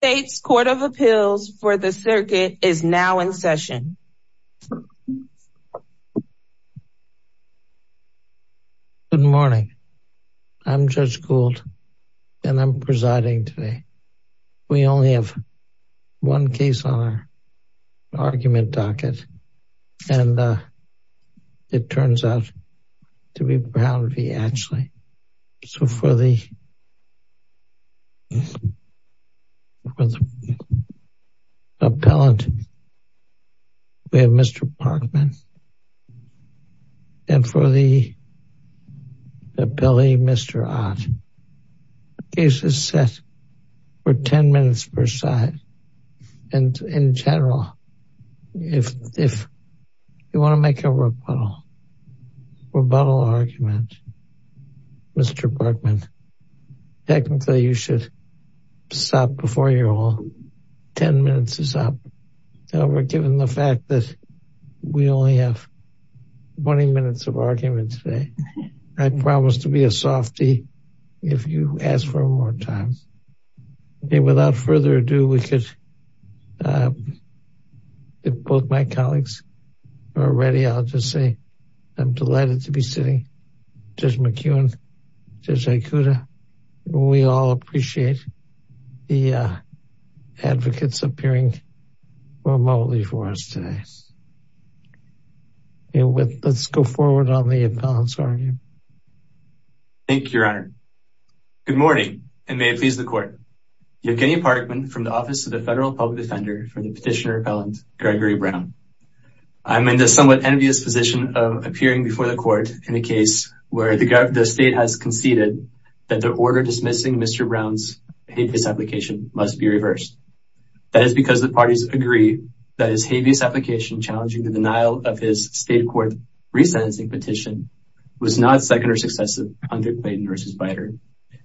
The United States Court of Appeals for the Circuit is now in session. Good morning. I'm Judge Gould and I'm presiding today. We only have one case on our argument docket and it turns out to be Brown v. Atchley. So for the appellant, we have Mr. Parkman and for the appellee, Mr. Ott. The case is set for 10 minutes per side. And in general, if you want to make a rebuttal argument, Mr. Parkman, technically you should stop before you're all, 10 minutes is up. Now we're given the fact that we only have 20 minutes of argument today. I promise to be a softy if you ask for more time. Without further ado, we could, if both my colleagues are ready, I'll just say I'm delighted to be sitting with Judge McEwen, Judge Aikuda. We all appreciate the advocates appearing remotely for us today. Let's go forward on the appellant's argument. Thank you, your honor. Good morning and may it please the court. I'm Kenny Parkman from the Office of the Federal Public Defender for the petitioner appellant, Gregory Brown. I'm in the somewhat envious position of appearing before the court in a case where the state has conceded that the order dismissing Mr. Brown's habeas application must be reversed. That is because the parties agree that his habeas application challenging the denial of his state court resentencing petition was not second or successive under Clayton v. Bider.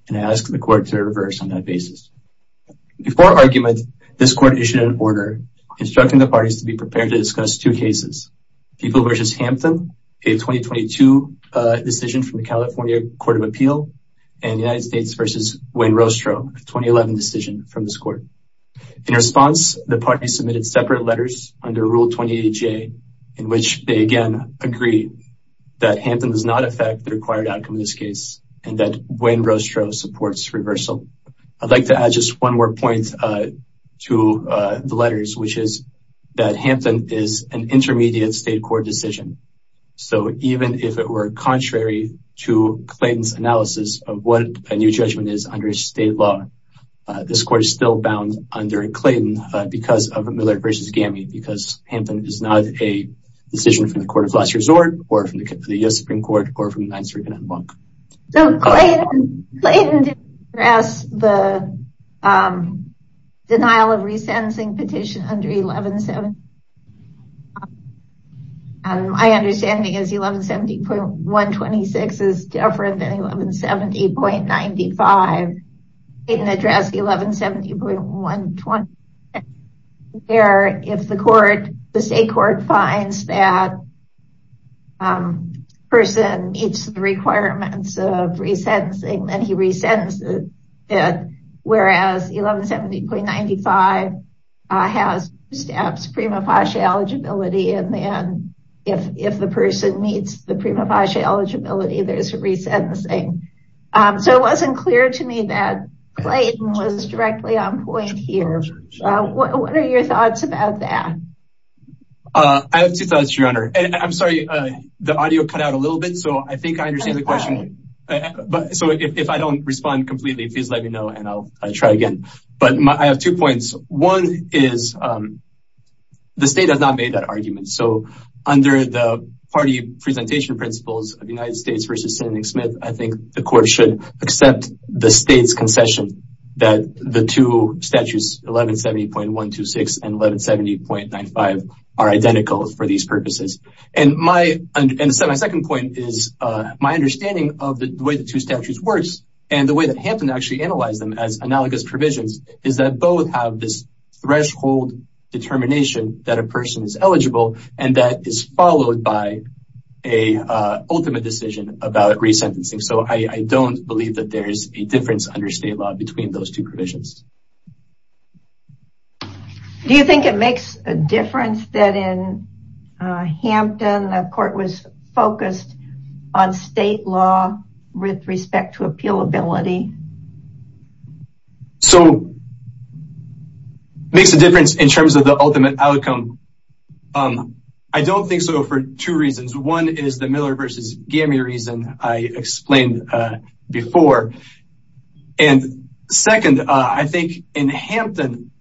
And I ask the court to reverse on that basis. Before argument, this court issued an order instructing the parties to be prepared to discuss two cases, People v. Hampton, a 2022 decision from the California Court of Appeal, and United States v. Wayne Rostro, a 2011 decision from this court. In response, the parties submitted separate letters under Rule 28J in which they again agree that Hampton does not affect the required outcome of this case and that Wayne Rostro supports reversal. I'd like to add just one more point to the letters, which is that Hampton is an intermediate state court decision. So even if it were contrary to Clayton's analysis of what a new judgment is under state law, this court is still bound under Clayton because of Miller v. Gammy, because Hampton is not a decision from the Court of Last Resort or from the U.S. Supreme Court or from the United States Supreme Court. So Clayton didn't address the denial of resensing petition under 1170. My understanding is 1170.126 is different than 1170.95. Clayton addressed the denial of resensing petition under 1170.126. So it wasn't clear to me that Clayton was directly on point here. What are your thoughts about that? I have two thoughts, Your Honor. I'm sorry, the audio cut out a little bit, so I think I understand the question. So if I don't respond completely, please let me know and I'll try again. But I have two points. One is the state has not made that argument. So under the party presentation principles of the United States v. Sanding Smith, I think the court should accept the state's concession that the two statutes, 1170.126 and 1170.95, are identical for these purposes. And my second point is my understanding of the way the two statutes works and the way that Hampton actually analyzed them as analogous provisions is that both have this threshold determination that a person is eligible and that is followed by an ultimate decision about resentencing. So I don't believe that there is a difference under state law between those two provisions. Do you think it makes a difference that in Hampton the court was focused on state law with respect to appealability? So it makes a difference in terms of the ultimate outcome. I don't think so for two reasons. One is the Miller v. Gamie reason I explained before. And second, I think in Hampton,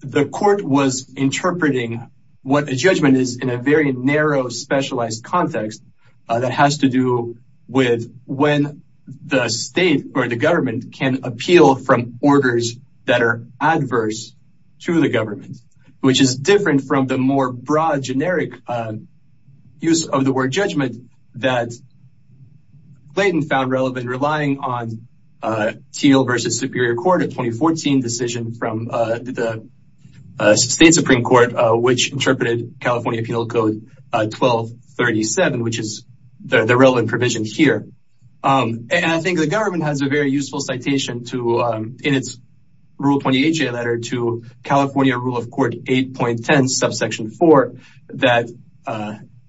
the court was interpreting what a judgment is in a very narrow, specialized context that has to do with when the state or the government can appeal from orders that are adverse to the government, which is different from the more broad, generic use of the word judgment that Clayton found relevant relying on Teal v. Superior Court, a 2014 decision from the state Supreme Court, which interpreted California Penal Code 1237, which is the relevant provision here. And I think the government has a very useful citation in its Rule 28J letter to California Rule of Court 8.10 subsection 4 that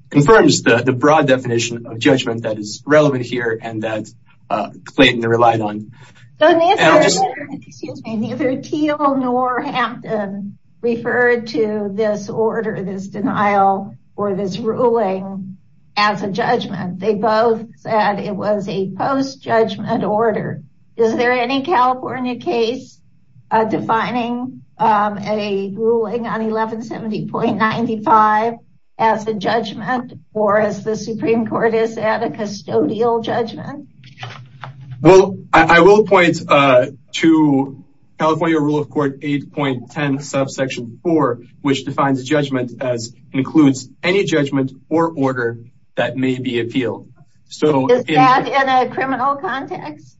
confirms the broad definition of judgment that is relevant here and that Clayton relied on. Neither Teal nor Hampton referred to this order, this denial, or this ruling as a judgment. They both said it was a post-judgment order. Is there any California case defining a ruling on 1170.95 as a judgment or as the Supreme Court has said, a custodial judgment? Well, I will point to California Rule of Court 8.10 subsection 4, which defines a judgment as includes any judgment or order that may be appealed. Is that in a criminal context?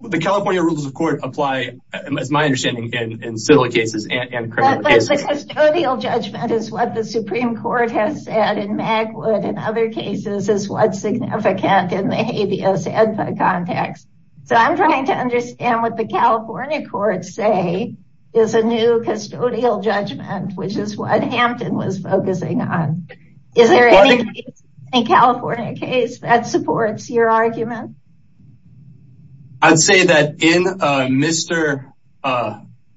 The California Rules of Court apply, it's my understanding, in civil cases and criminal cases. But the custodial judgment is what the Supreme Court has said in Magwood and other cases is what's significant in the habeas ed context. So I'm trying to understand what the California courts say is a new custodial judgment, which is what Hampton was focusing on. Is there any California case that supports your argument? I'd say that in Mr.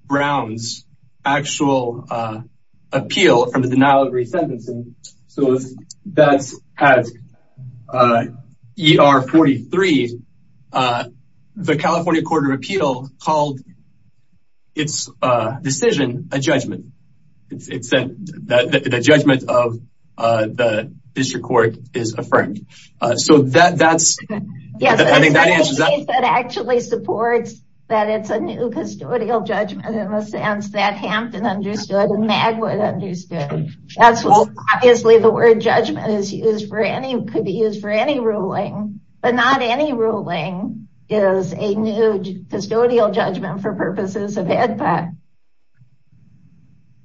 Brown's actual appeal from the denial of re-sentencing, so that's at ER 43, the California Court of Appeal called its decision a judgment. It said that the judgment of the district court is affirmed. So that's, I think that answers that. Is there any case that actually supports that it's a new custodial judgment in the sense that Hampton understood and Magwood understood? Obviously the word judgment could be used for any ruling, but not any ruling is a new custodial judgment for purposes of HEDPA.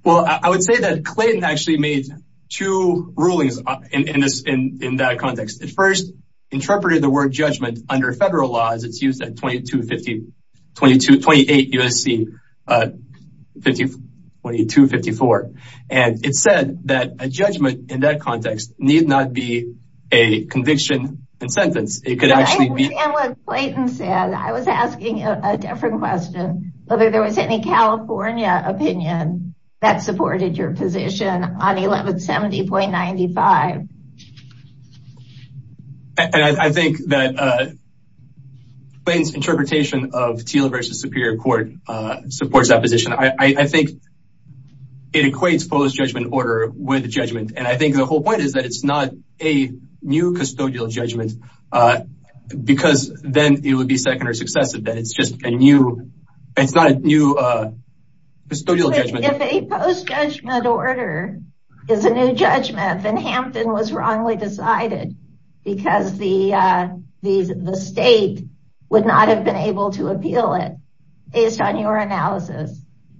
Well, I would say that Clayton actually made two rulings in that context. It first interpreted the word judgment under federal laws. It's used at 2258 U.S.C., 2254. And it said that a judgment in that context need not be a conviction and sentence. It could actually be... I understand what Clayton said. I was asking a different question, whether there was any California opinion that supported your position on 1170.95. And I think that Clayton's interpretation of Teal v. Superior Court supports that position. I think it equates post-judgment order with judgment. And I think the whole point is that it's not a new custodial judgment because then it would be second or successive. It's just a new, it's not a new custodial judgment. If a post-judgment order is a new judgment, then Hampton was wrongly decided because the state would not have been able to appeal it based on your analysis.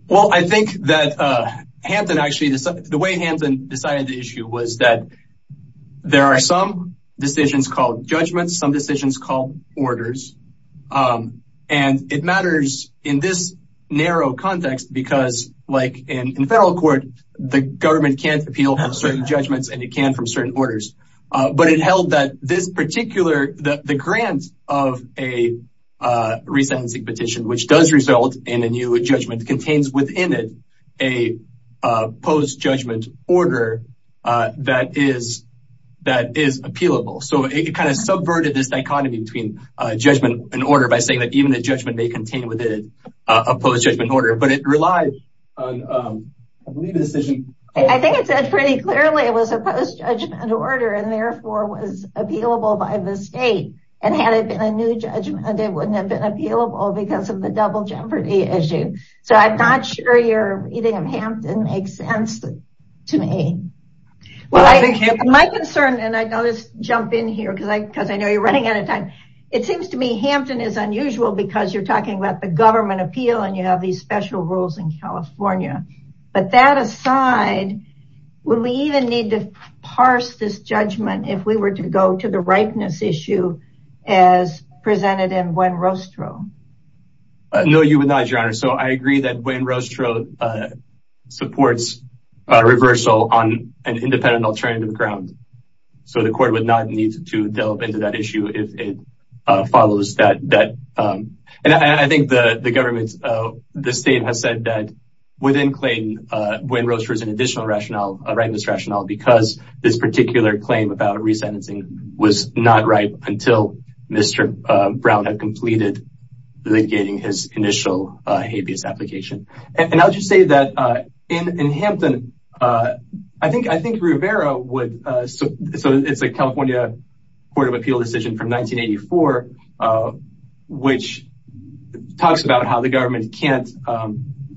Well, I think that Hampton actually, the way Hampton decided the issue was that there are some decisions called judgments, some decisions called orders. And it matters in this narrow context because, like in federal court, the government can't appeal certain judgments and it can from certain orders. But it held that this particular, the grant of a resentencing petition, which does result in a new judgment, contains within it a post-judgment order that is appealable. So it kind of subverted this dichotomy between judgment and order by saying that even the judgment may contain within it a post-judgment order. But it relies on, I believe, a decision. I think it said pretty clearly it was a post-judgment order and therefore was appealable by the state. And had it been a new judgment, it wouldn't have been appealable because of the double jeopardy issue. So I'm not sure your reading of Hampton makes sense to me. My concern, and I'll just jump in here because I know you're running out of time. It seems to me Hampton is unusual because you're talking about the government appeal and you have these special rules in California. But that aside, would we even need to parse this judgment if we were to go to the ripeness issue as presented in Gwen Rostrow? No, you would not, Your Honor. So I agree that Gwen Rostrow supports a reversal on an independent alternative ground. So the court would not need to delve into that issue if it follows that. And I think the government, the state has said that within Clayton, Gwen Rostrow is an additional rationale, a ripeness rationale, because this particular claim about resentencing was not ripe until Mr. Brown had completed litigating his initial habeas application. And I'll just say that in Hampton, I think Rivera would. So it's a California Court of Appeal decision from 1984, which talks about how the government can't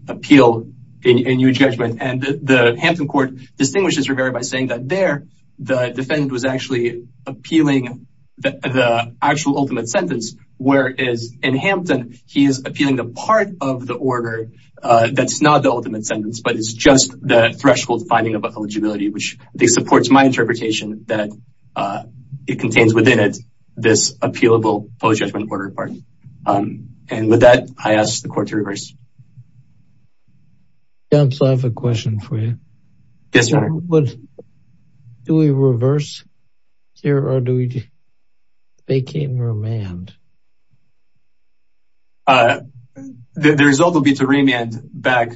appeal a new judgment. And the Hampton court distinguishes Rivera by saying that there the defendant was actually appealing the actual ultimate sentence. Whereas in Hampton, he is appealing the part of the order that's not the ultimate sentence, but it's just the threshold finding of eligibility, which supports my interpretation that it contains within it this appealable post-judgment order part. And with that, I ask the court to reverse. I have a question for you. Yes, sir. Do we reverse here or do we vacate and remand? The result will be to remand back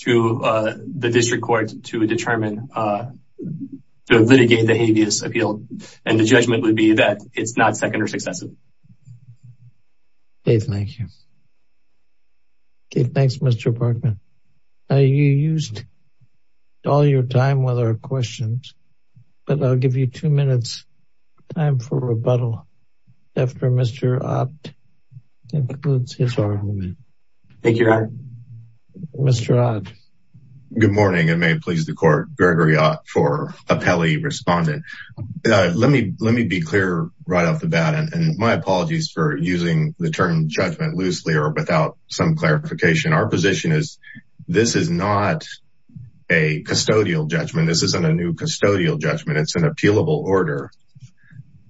to the district court to determine, to litigate the habeas appeal. And the judgment would be that it's not second or successive. Dave, thank you. Thanks, Mr. Parkman. You used all your time with our questions, but I'll give you two minutes time for rebuttal after Mr. Ott concludes his argument. Thank you, Your Honor. Mr. Ott. Good morning and may it please the court. Gregory Ott for appellee respondent. Let me be clear right off the bat, and my apologies for using the term judgment loosely or without some clarification. Our position is this is not a custodial judgment. This isn't a new custodial judgment. It's an appealable order.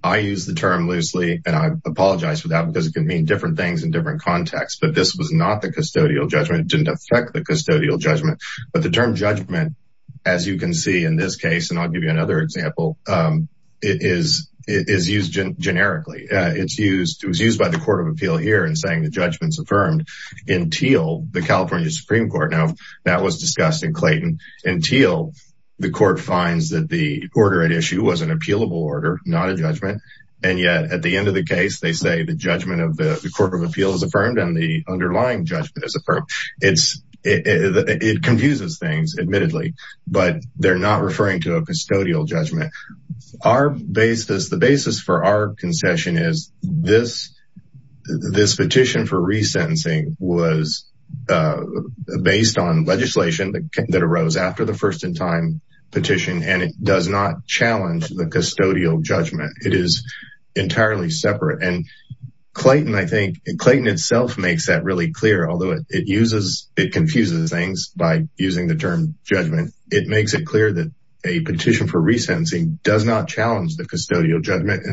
I use the term loosely, and I apologize for that because it can mean different things in different contexts. But this was not the custodial judgment. It didn't affect the custodial judgment. But the term judgment, as you can see in this case, and I'll give you another example, is used generically. It was used by the court of appeal here in saying the judgment's affirmed until the California Supreme Court. Now, that was discussed in Clayton until the court finds that the order at issue was an appealable order, not a judgment. And yet at the end of the case, they say the judgment of the court of appeal is affirmed and the underlying judgment is affirmed. It confuses things, admittedly, but they're not referring to a custodial judgment. The basis for our concession is this petition for resentencing was based on legislation that arose after the first-in-time petition, and it does not challenge the custodial judgment. It is entirely separate. And Clayton, I think, Clayton itself makes that really clear, although it confuses things by using the term judgment. It makes it clear that a petition for resentencing does not challenge the custodial judgment.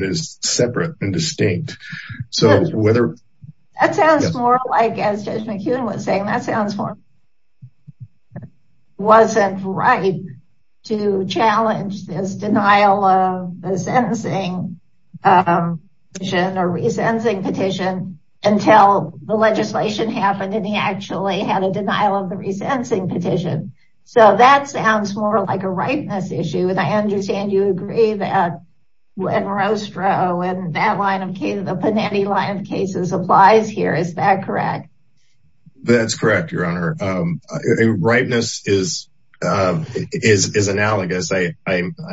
That sounds more like, as Judge McKeon was saying, that sounds more like it wasn't right to challenge this denial of the sentencing petition or resentencing petition until the legislation happened and he actually had a denial of the resentencing petition. So that sounds more like a rightness issue. And I understand you agree that when Rostro and that line of cases, the Panetti line of cases applies here. Is that correct? That's correct, Your Honor. Rightness is analogous. I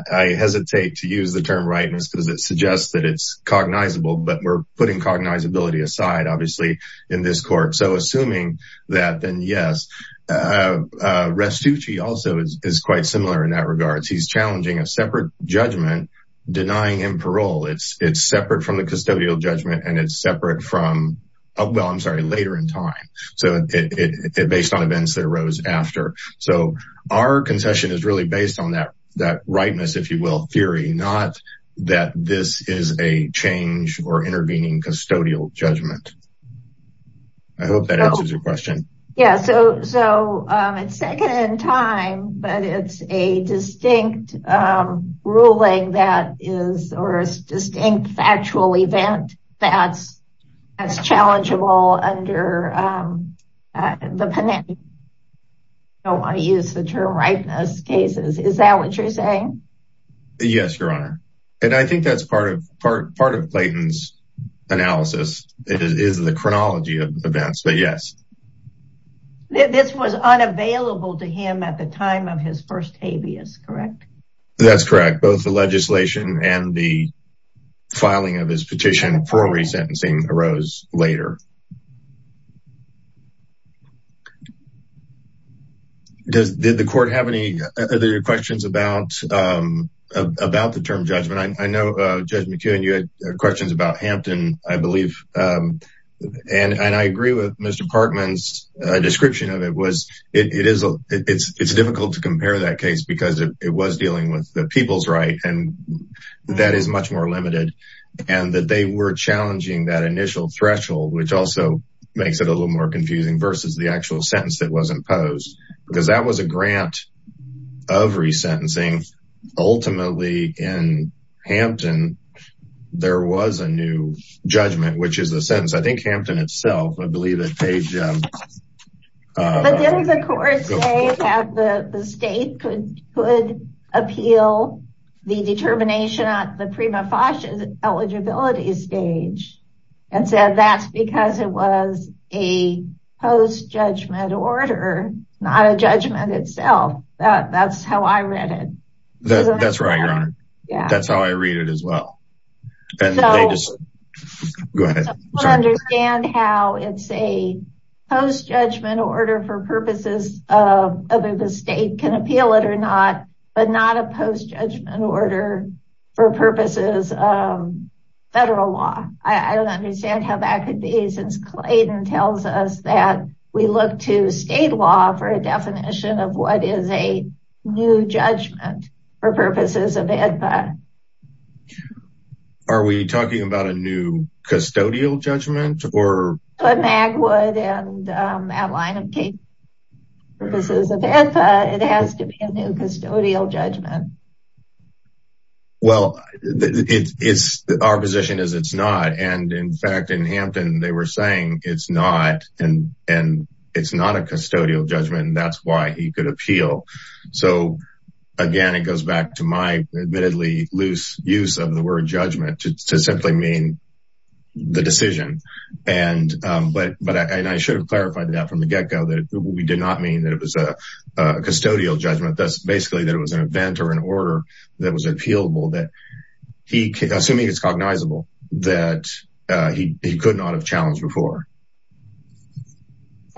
hesitate to use the term rightness because it suggests that it's cognizable, but we're putting cognizability aside, obviously, in this court. So assuming that, then yes. Rastucci also is quite similar in that regard. He's challenging a separate judgment, denying him parole. It's separate from the custodial judgment and it's separate from, well, I'm sorry, later in time. So it's based on events that arose after. So our concession is really based on that rightness, if you will, theory, not that this is a change or intervening custodial judgment. I hope that answers your question. Yes. So it's second in time, but it's a distinct ruling that is or a distinct factual event that's as challengeable under the Panetti. I don't want to use the term rightness cases. Is that what you're saying? Yes, Your Honor. And I think that's part of part of Clayton's analysis. It is the chronology of events, but yes. This was unavailable to him at the time of his first habeas, correct? That's correct. Both the legislation and the filing of his petition for resentencing arose later. Did the court have any other questions about the term judgment? I know, Judge McKeown, you had questions about Hampton, I believe. And I agree with Mr. Parkman's description of it. It's difficult to compare that case because it was dealing with the people's right, and that is much more limited. And that they were challenging that initial threshold, which also makes it a little more confusing, versus the actual sentence that was imposed. Because that was a grant of resentencing. Ultimately, in Hampton, there was a new judgment, which is the sentence. I think Hampton itself, I believe that page... That's how I read it. That's right, Your Honor. That's how I read it as well. Go ahead. I don't understand how it's a post-judgment order for purposes of whether the state can appeal it or not, but not a post-judgment order for purposes of federal law. I don't understand how that could be, since Clayton tells us that we look to state law for a definition of what is a new judgment for purposes of AEDPA. Are we talking about a new custodial judgment? For Magwood and that line of cases, for purposes of AEDPA, it has to be a new custodial judgment. Well, our position is it's not. In fact, in Hampton, they were saying it's not, and it's not a custodial judgment, and that's why he could appeal. Again, it goes back to my admittedly loose use of the word judgment to simply mean the decision. I should have clarified that from the get-go. We did not mean that it was a custodial judgment. That's basically that it was an event or an order that was appealable, assuming it's cognizable, that he could not have challenged before.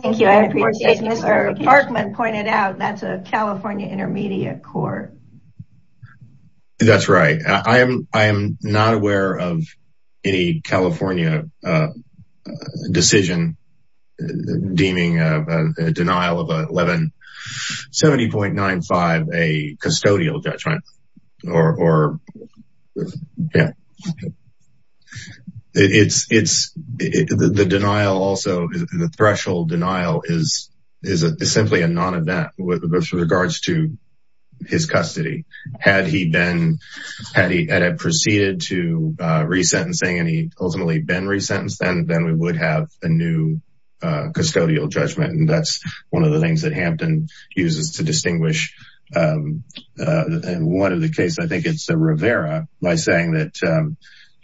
Thank you. Mr. Parkman pointed out that's a California intermediate court. That's right. I am not aware of any California decision deeming a denial of a 1170.95 a custodial judgment. The denial also, the threshold denial, is simply a non-event with regards to his custody. Had he proceeded to resentencing and he ultimately been resentenced, then we would have a new custodial judgment, and that's one of the things that Hampton uses to distinguish one of the cases, I think it's Rivera, by saying that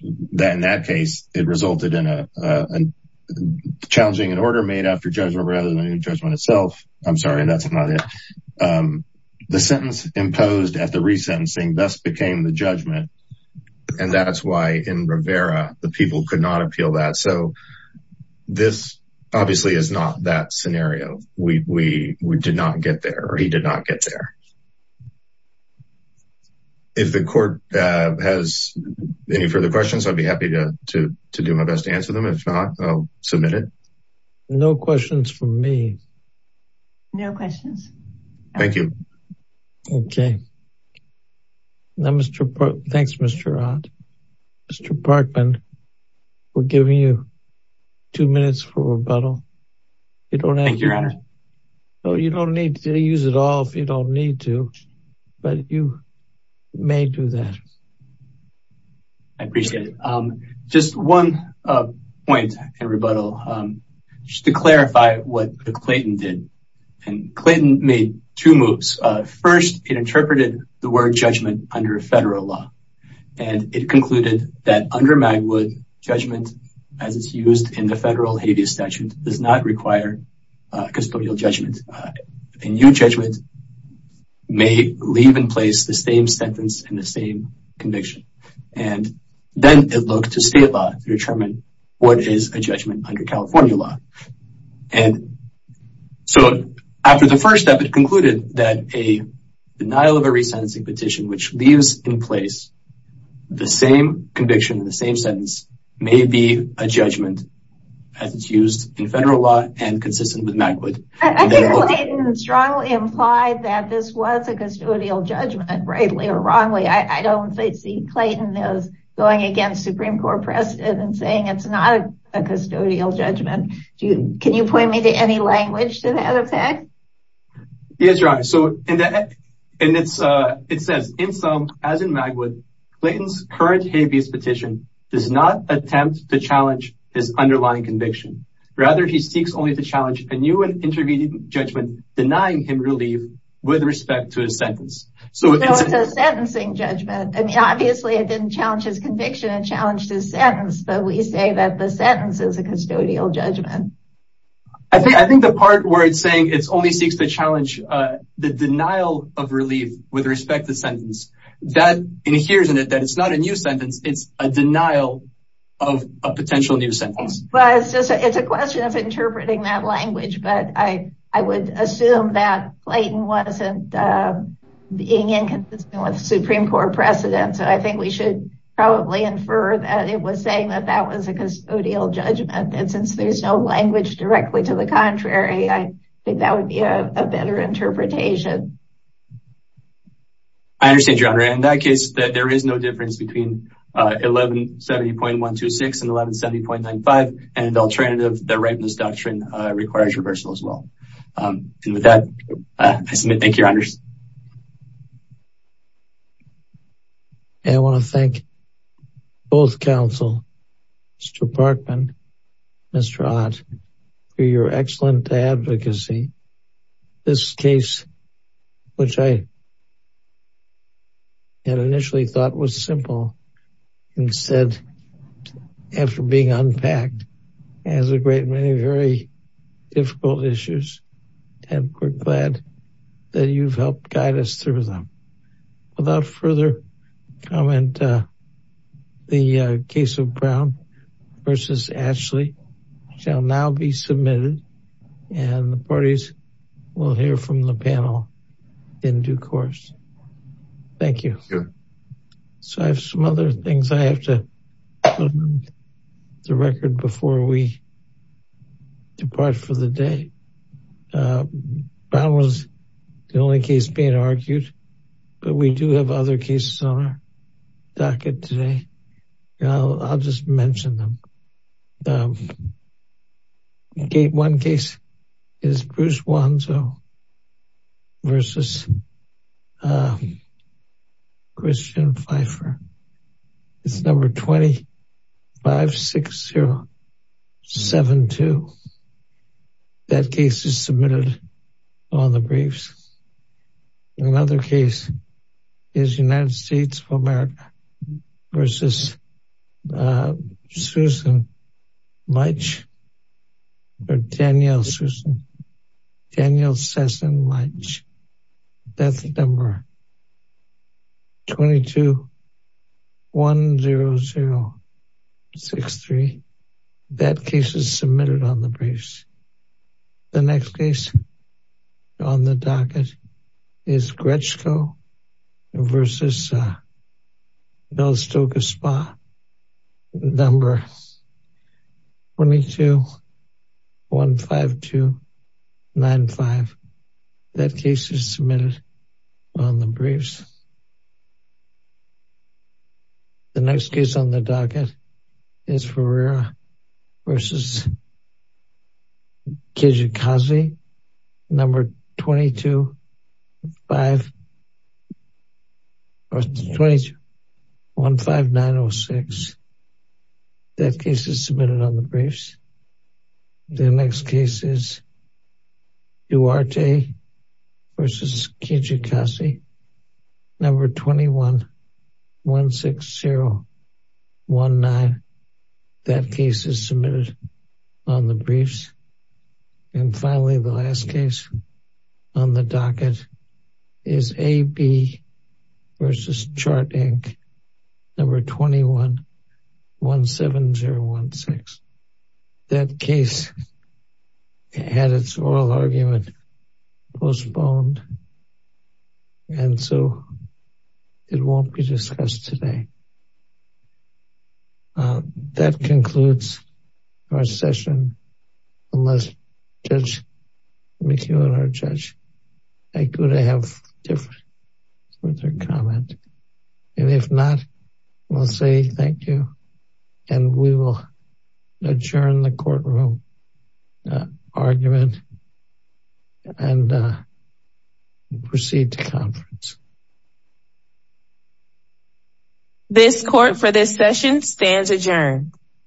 in that case, it resulted in challenging an order made after judgment rather than the judgment itself. I'm sorry, that's not it. The sentence imposed at the resentencing thus became the judgment, and that's why in Rivera, the people could not appeal that. So this obviously is not that scenario. We did not get there, or he did not get there. If the court has any further questions, I'd be happy to do my best to answer them. If not, I'll submit it. No questions from me. No questions. Thank you. Okay. Thanks, Mr. Ott. Mr. Parkman, we're giving you two minutes for rebuttal. Thank you, Your Honor. You don't need to use it all if you don't need to, but you may do that. I appreciate it. Just one point in rebuttal, just to clarify what Clayton did. Clayton made two moves. First, it interpreted the word judgment under federal law, and it concluded that under Magwood, judgment as it's used in the federal habeas statute does not require custodial judgment. A new judgment may leave in place the same sentence and the same conviction. Then, it looked to state law to determine what is a judgment under California law. After the first step, it concluded that a denial of a resentencing petition, which leaves in place the same conviction and the same sentence, may be a judgment as it's used in federal law and consistent with Magwood. I think Clayton strongly implied that this was a custodial judgment, rightly or wrongly. I don't see Clayton as going against Supreme Court precedent and saying it's not a custodial judgment. Can you point me to any language to that effect? Yes, Your Honor. It says, in sum, as in Magwood, Clayton's current habeas petition does not attempt to challenge his underlying conviction. Rather, he seeks only to challenge a new and intervening judgment denying him relief with respect to his sentence. So, it's a sentencing judgment. Obviously, it didn't challenge his conviction. It challenged his sentence, but we say that the sentence is a custodial judgment. I think the part where it's saying it only seeks to challenge the denial of relief with respect to the sentence, that adheres in it that it's not a new sentence. It's a denial of a potential new sentence. It's a question of interpreting that language, but I would assume that Clayton wasn't being inconsistent with Supreme Court precedent. I think we should probably infer that it was saying that that was a custodial judgment. Since there's no language directly to the contrary, I think that would be a better interpretation. I understand, Your Honor. In that case, there is no difference between 1170.126 and 1170.95. The alternative, the ripeness doctrine, requires reversal as well. With that, I submit. Thank you, Your Honors. I want to thank both counsel, Mr. Parkman and Mr. Ott, for your excellent advocacy. This case, which I had initially thought was simple, instead, after being unpacked, has a great many very difficult issues. And we're glad that you've helped guide us through them. Without further comment, the case of Brown v. Ashley shall now be submitted. And the parties will hear from the panel in due course. Thank you. So I have some other things I have to put on the record before we depart for the day. Brown was the only case being argued, but we do have other cases on our docket today. I'll just mention them. One case is Bruce Wanzo v. Christian Pfeiffer. It's number 256072. That case is submitted on the briefs. Another case is United States of America v. Daniel Sessom Lynch. That's number 2210063. That case is submitted on the briefs. The next case on the docket is Gretchko v. Velasco Gaspar, number 2215295. That case is submitted on the briefs. The next case on the docket is Ferreira v. Kijikazi, number 2215906. That case is submitted on the briefs. The next case is Duarte v. Kijikazi, number 2116019. That case is submitted on the briefs. And finally, the last case on the docket is AB v. Chart, Inc., number 2117016. That case had its oral argument postponed, and so it won't be discussed today. That concludes our session. Unless Judge McEwen or Judge Aikuda have different comments. And if not, we'll say thank you, and we will adjourn the courtroom argument and proceed to conference. This court for this session stands adjourned.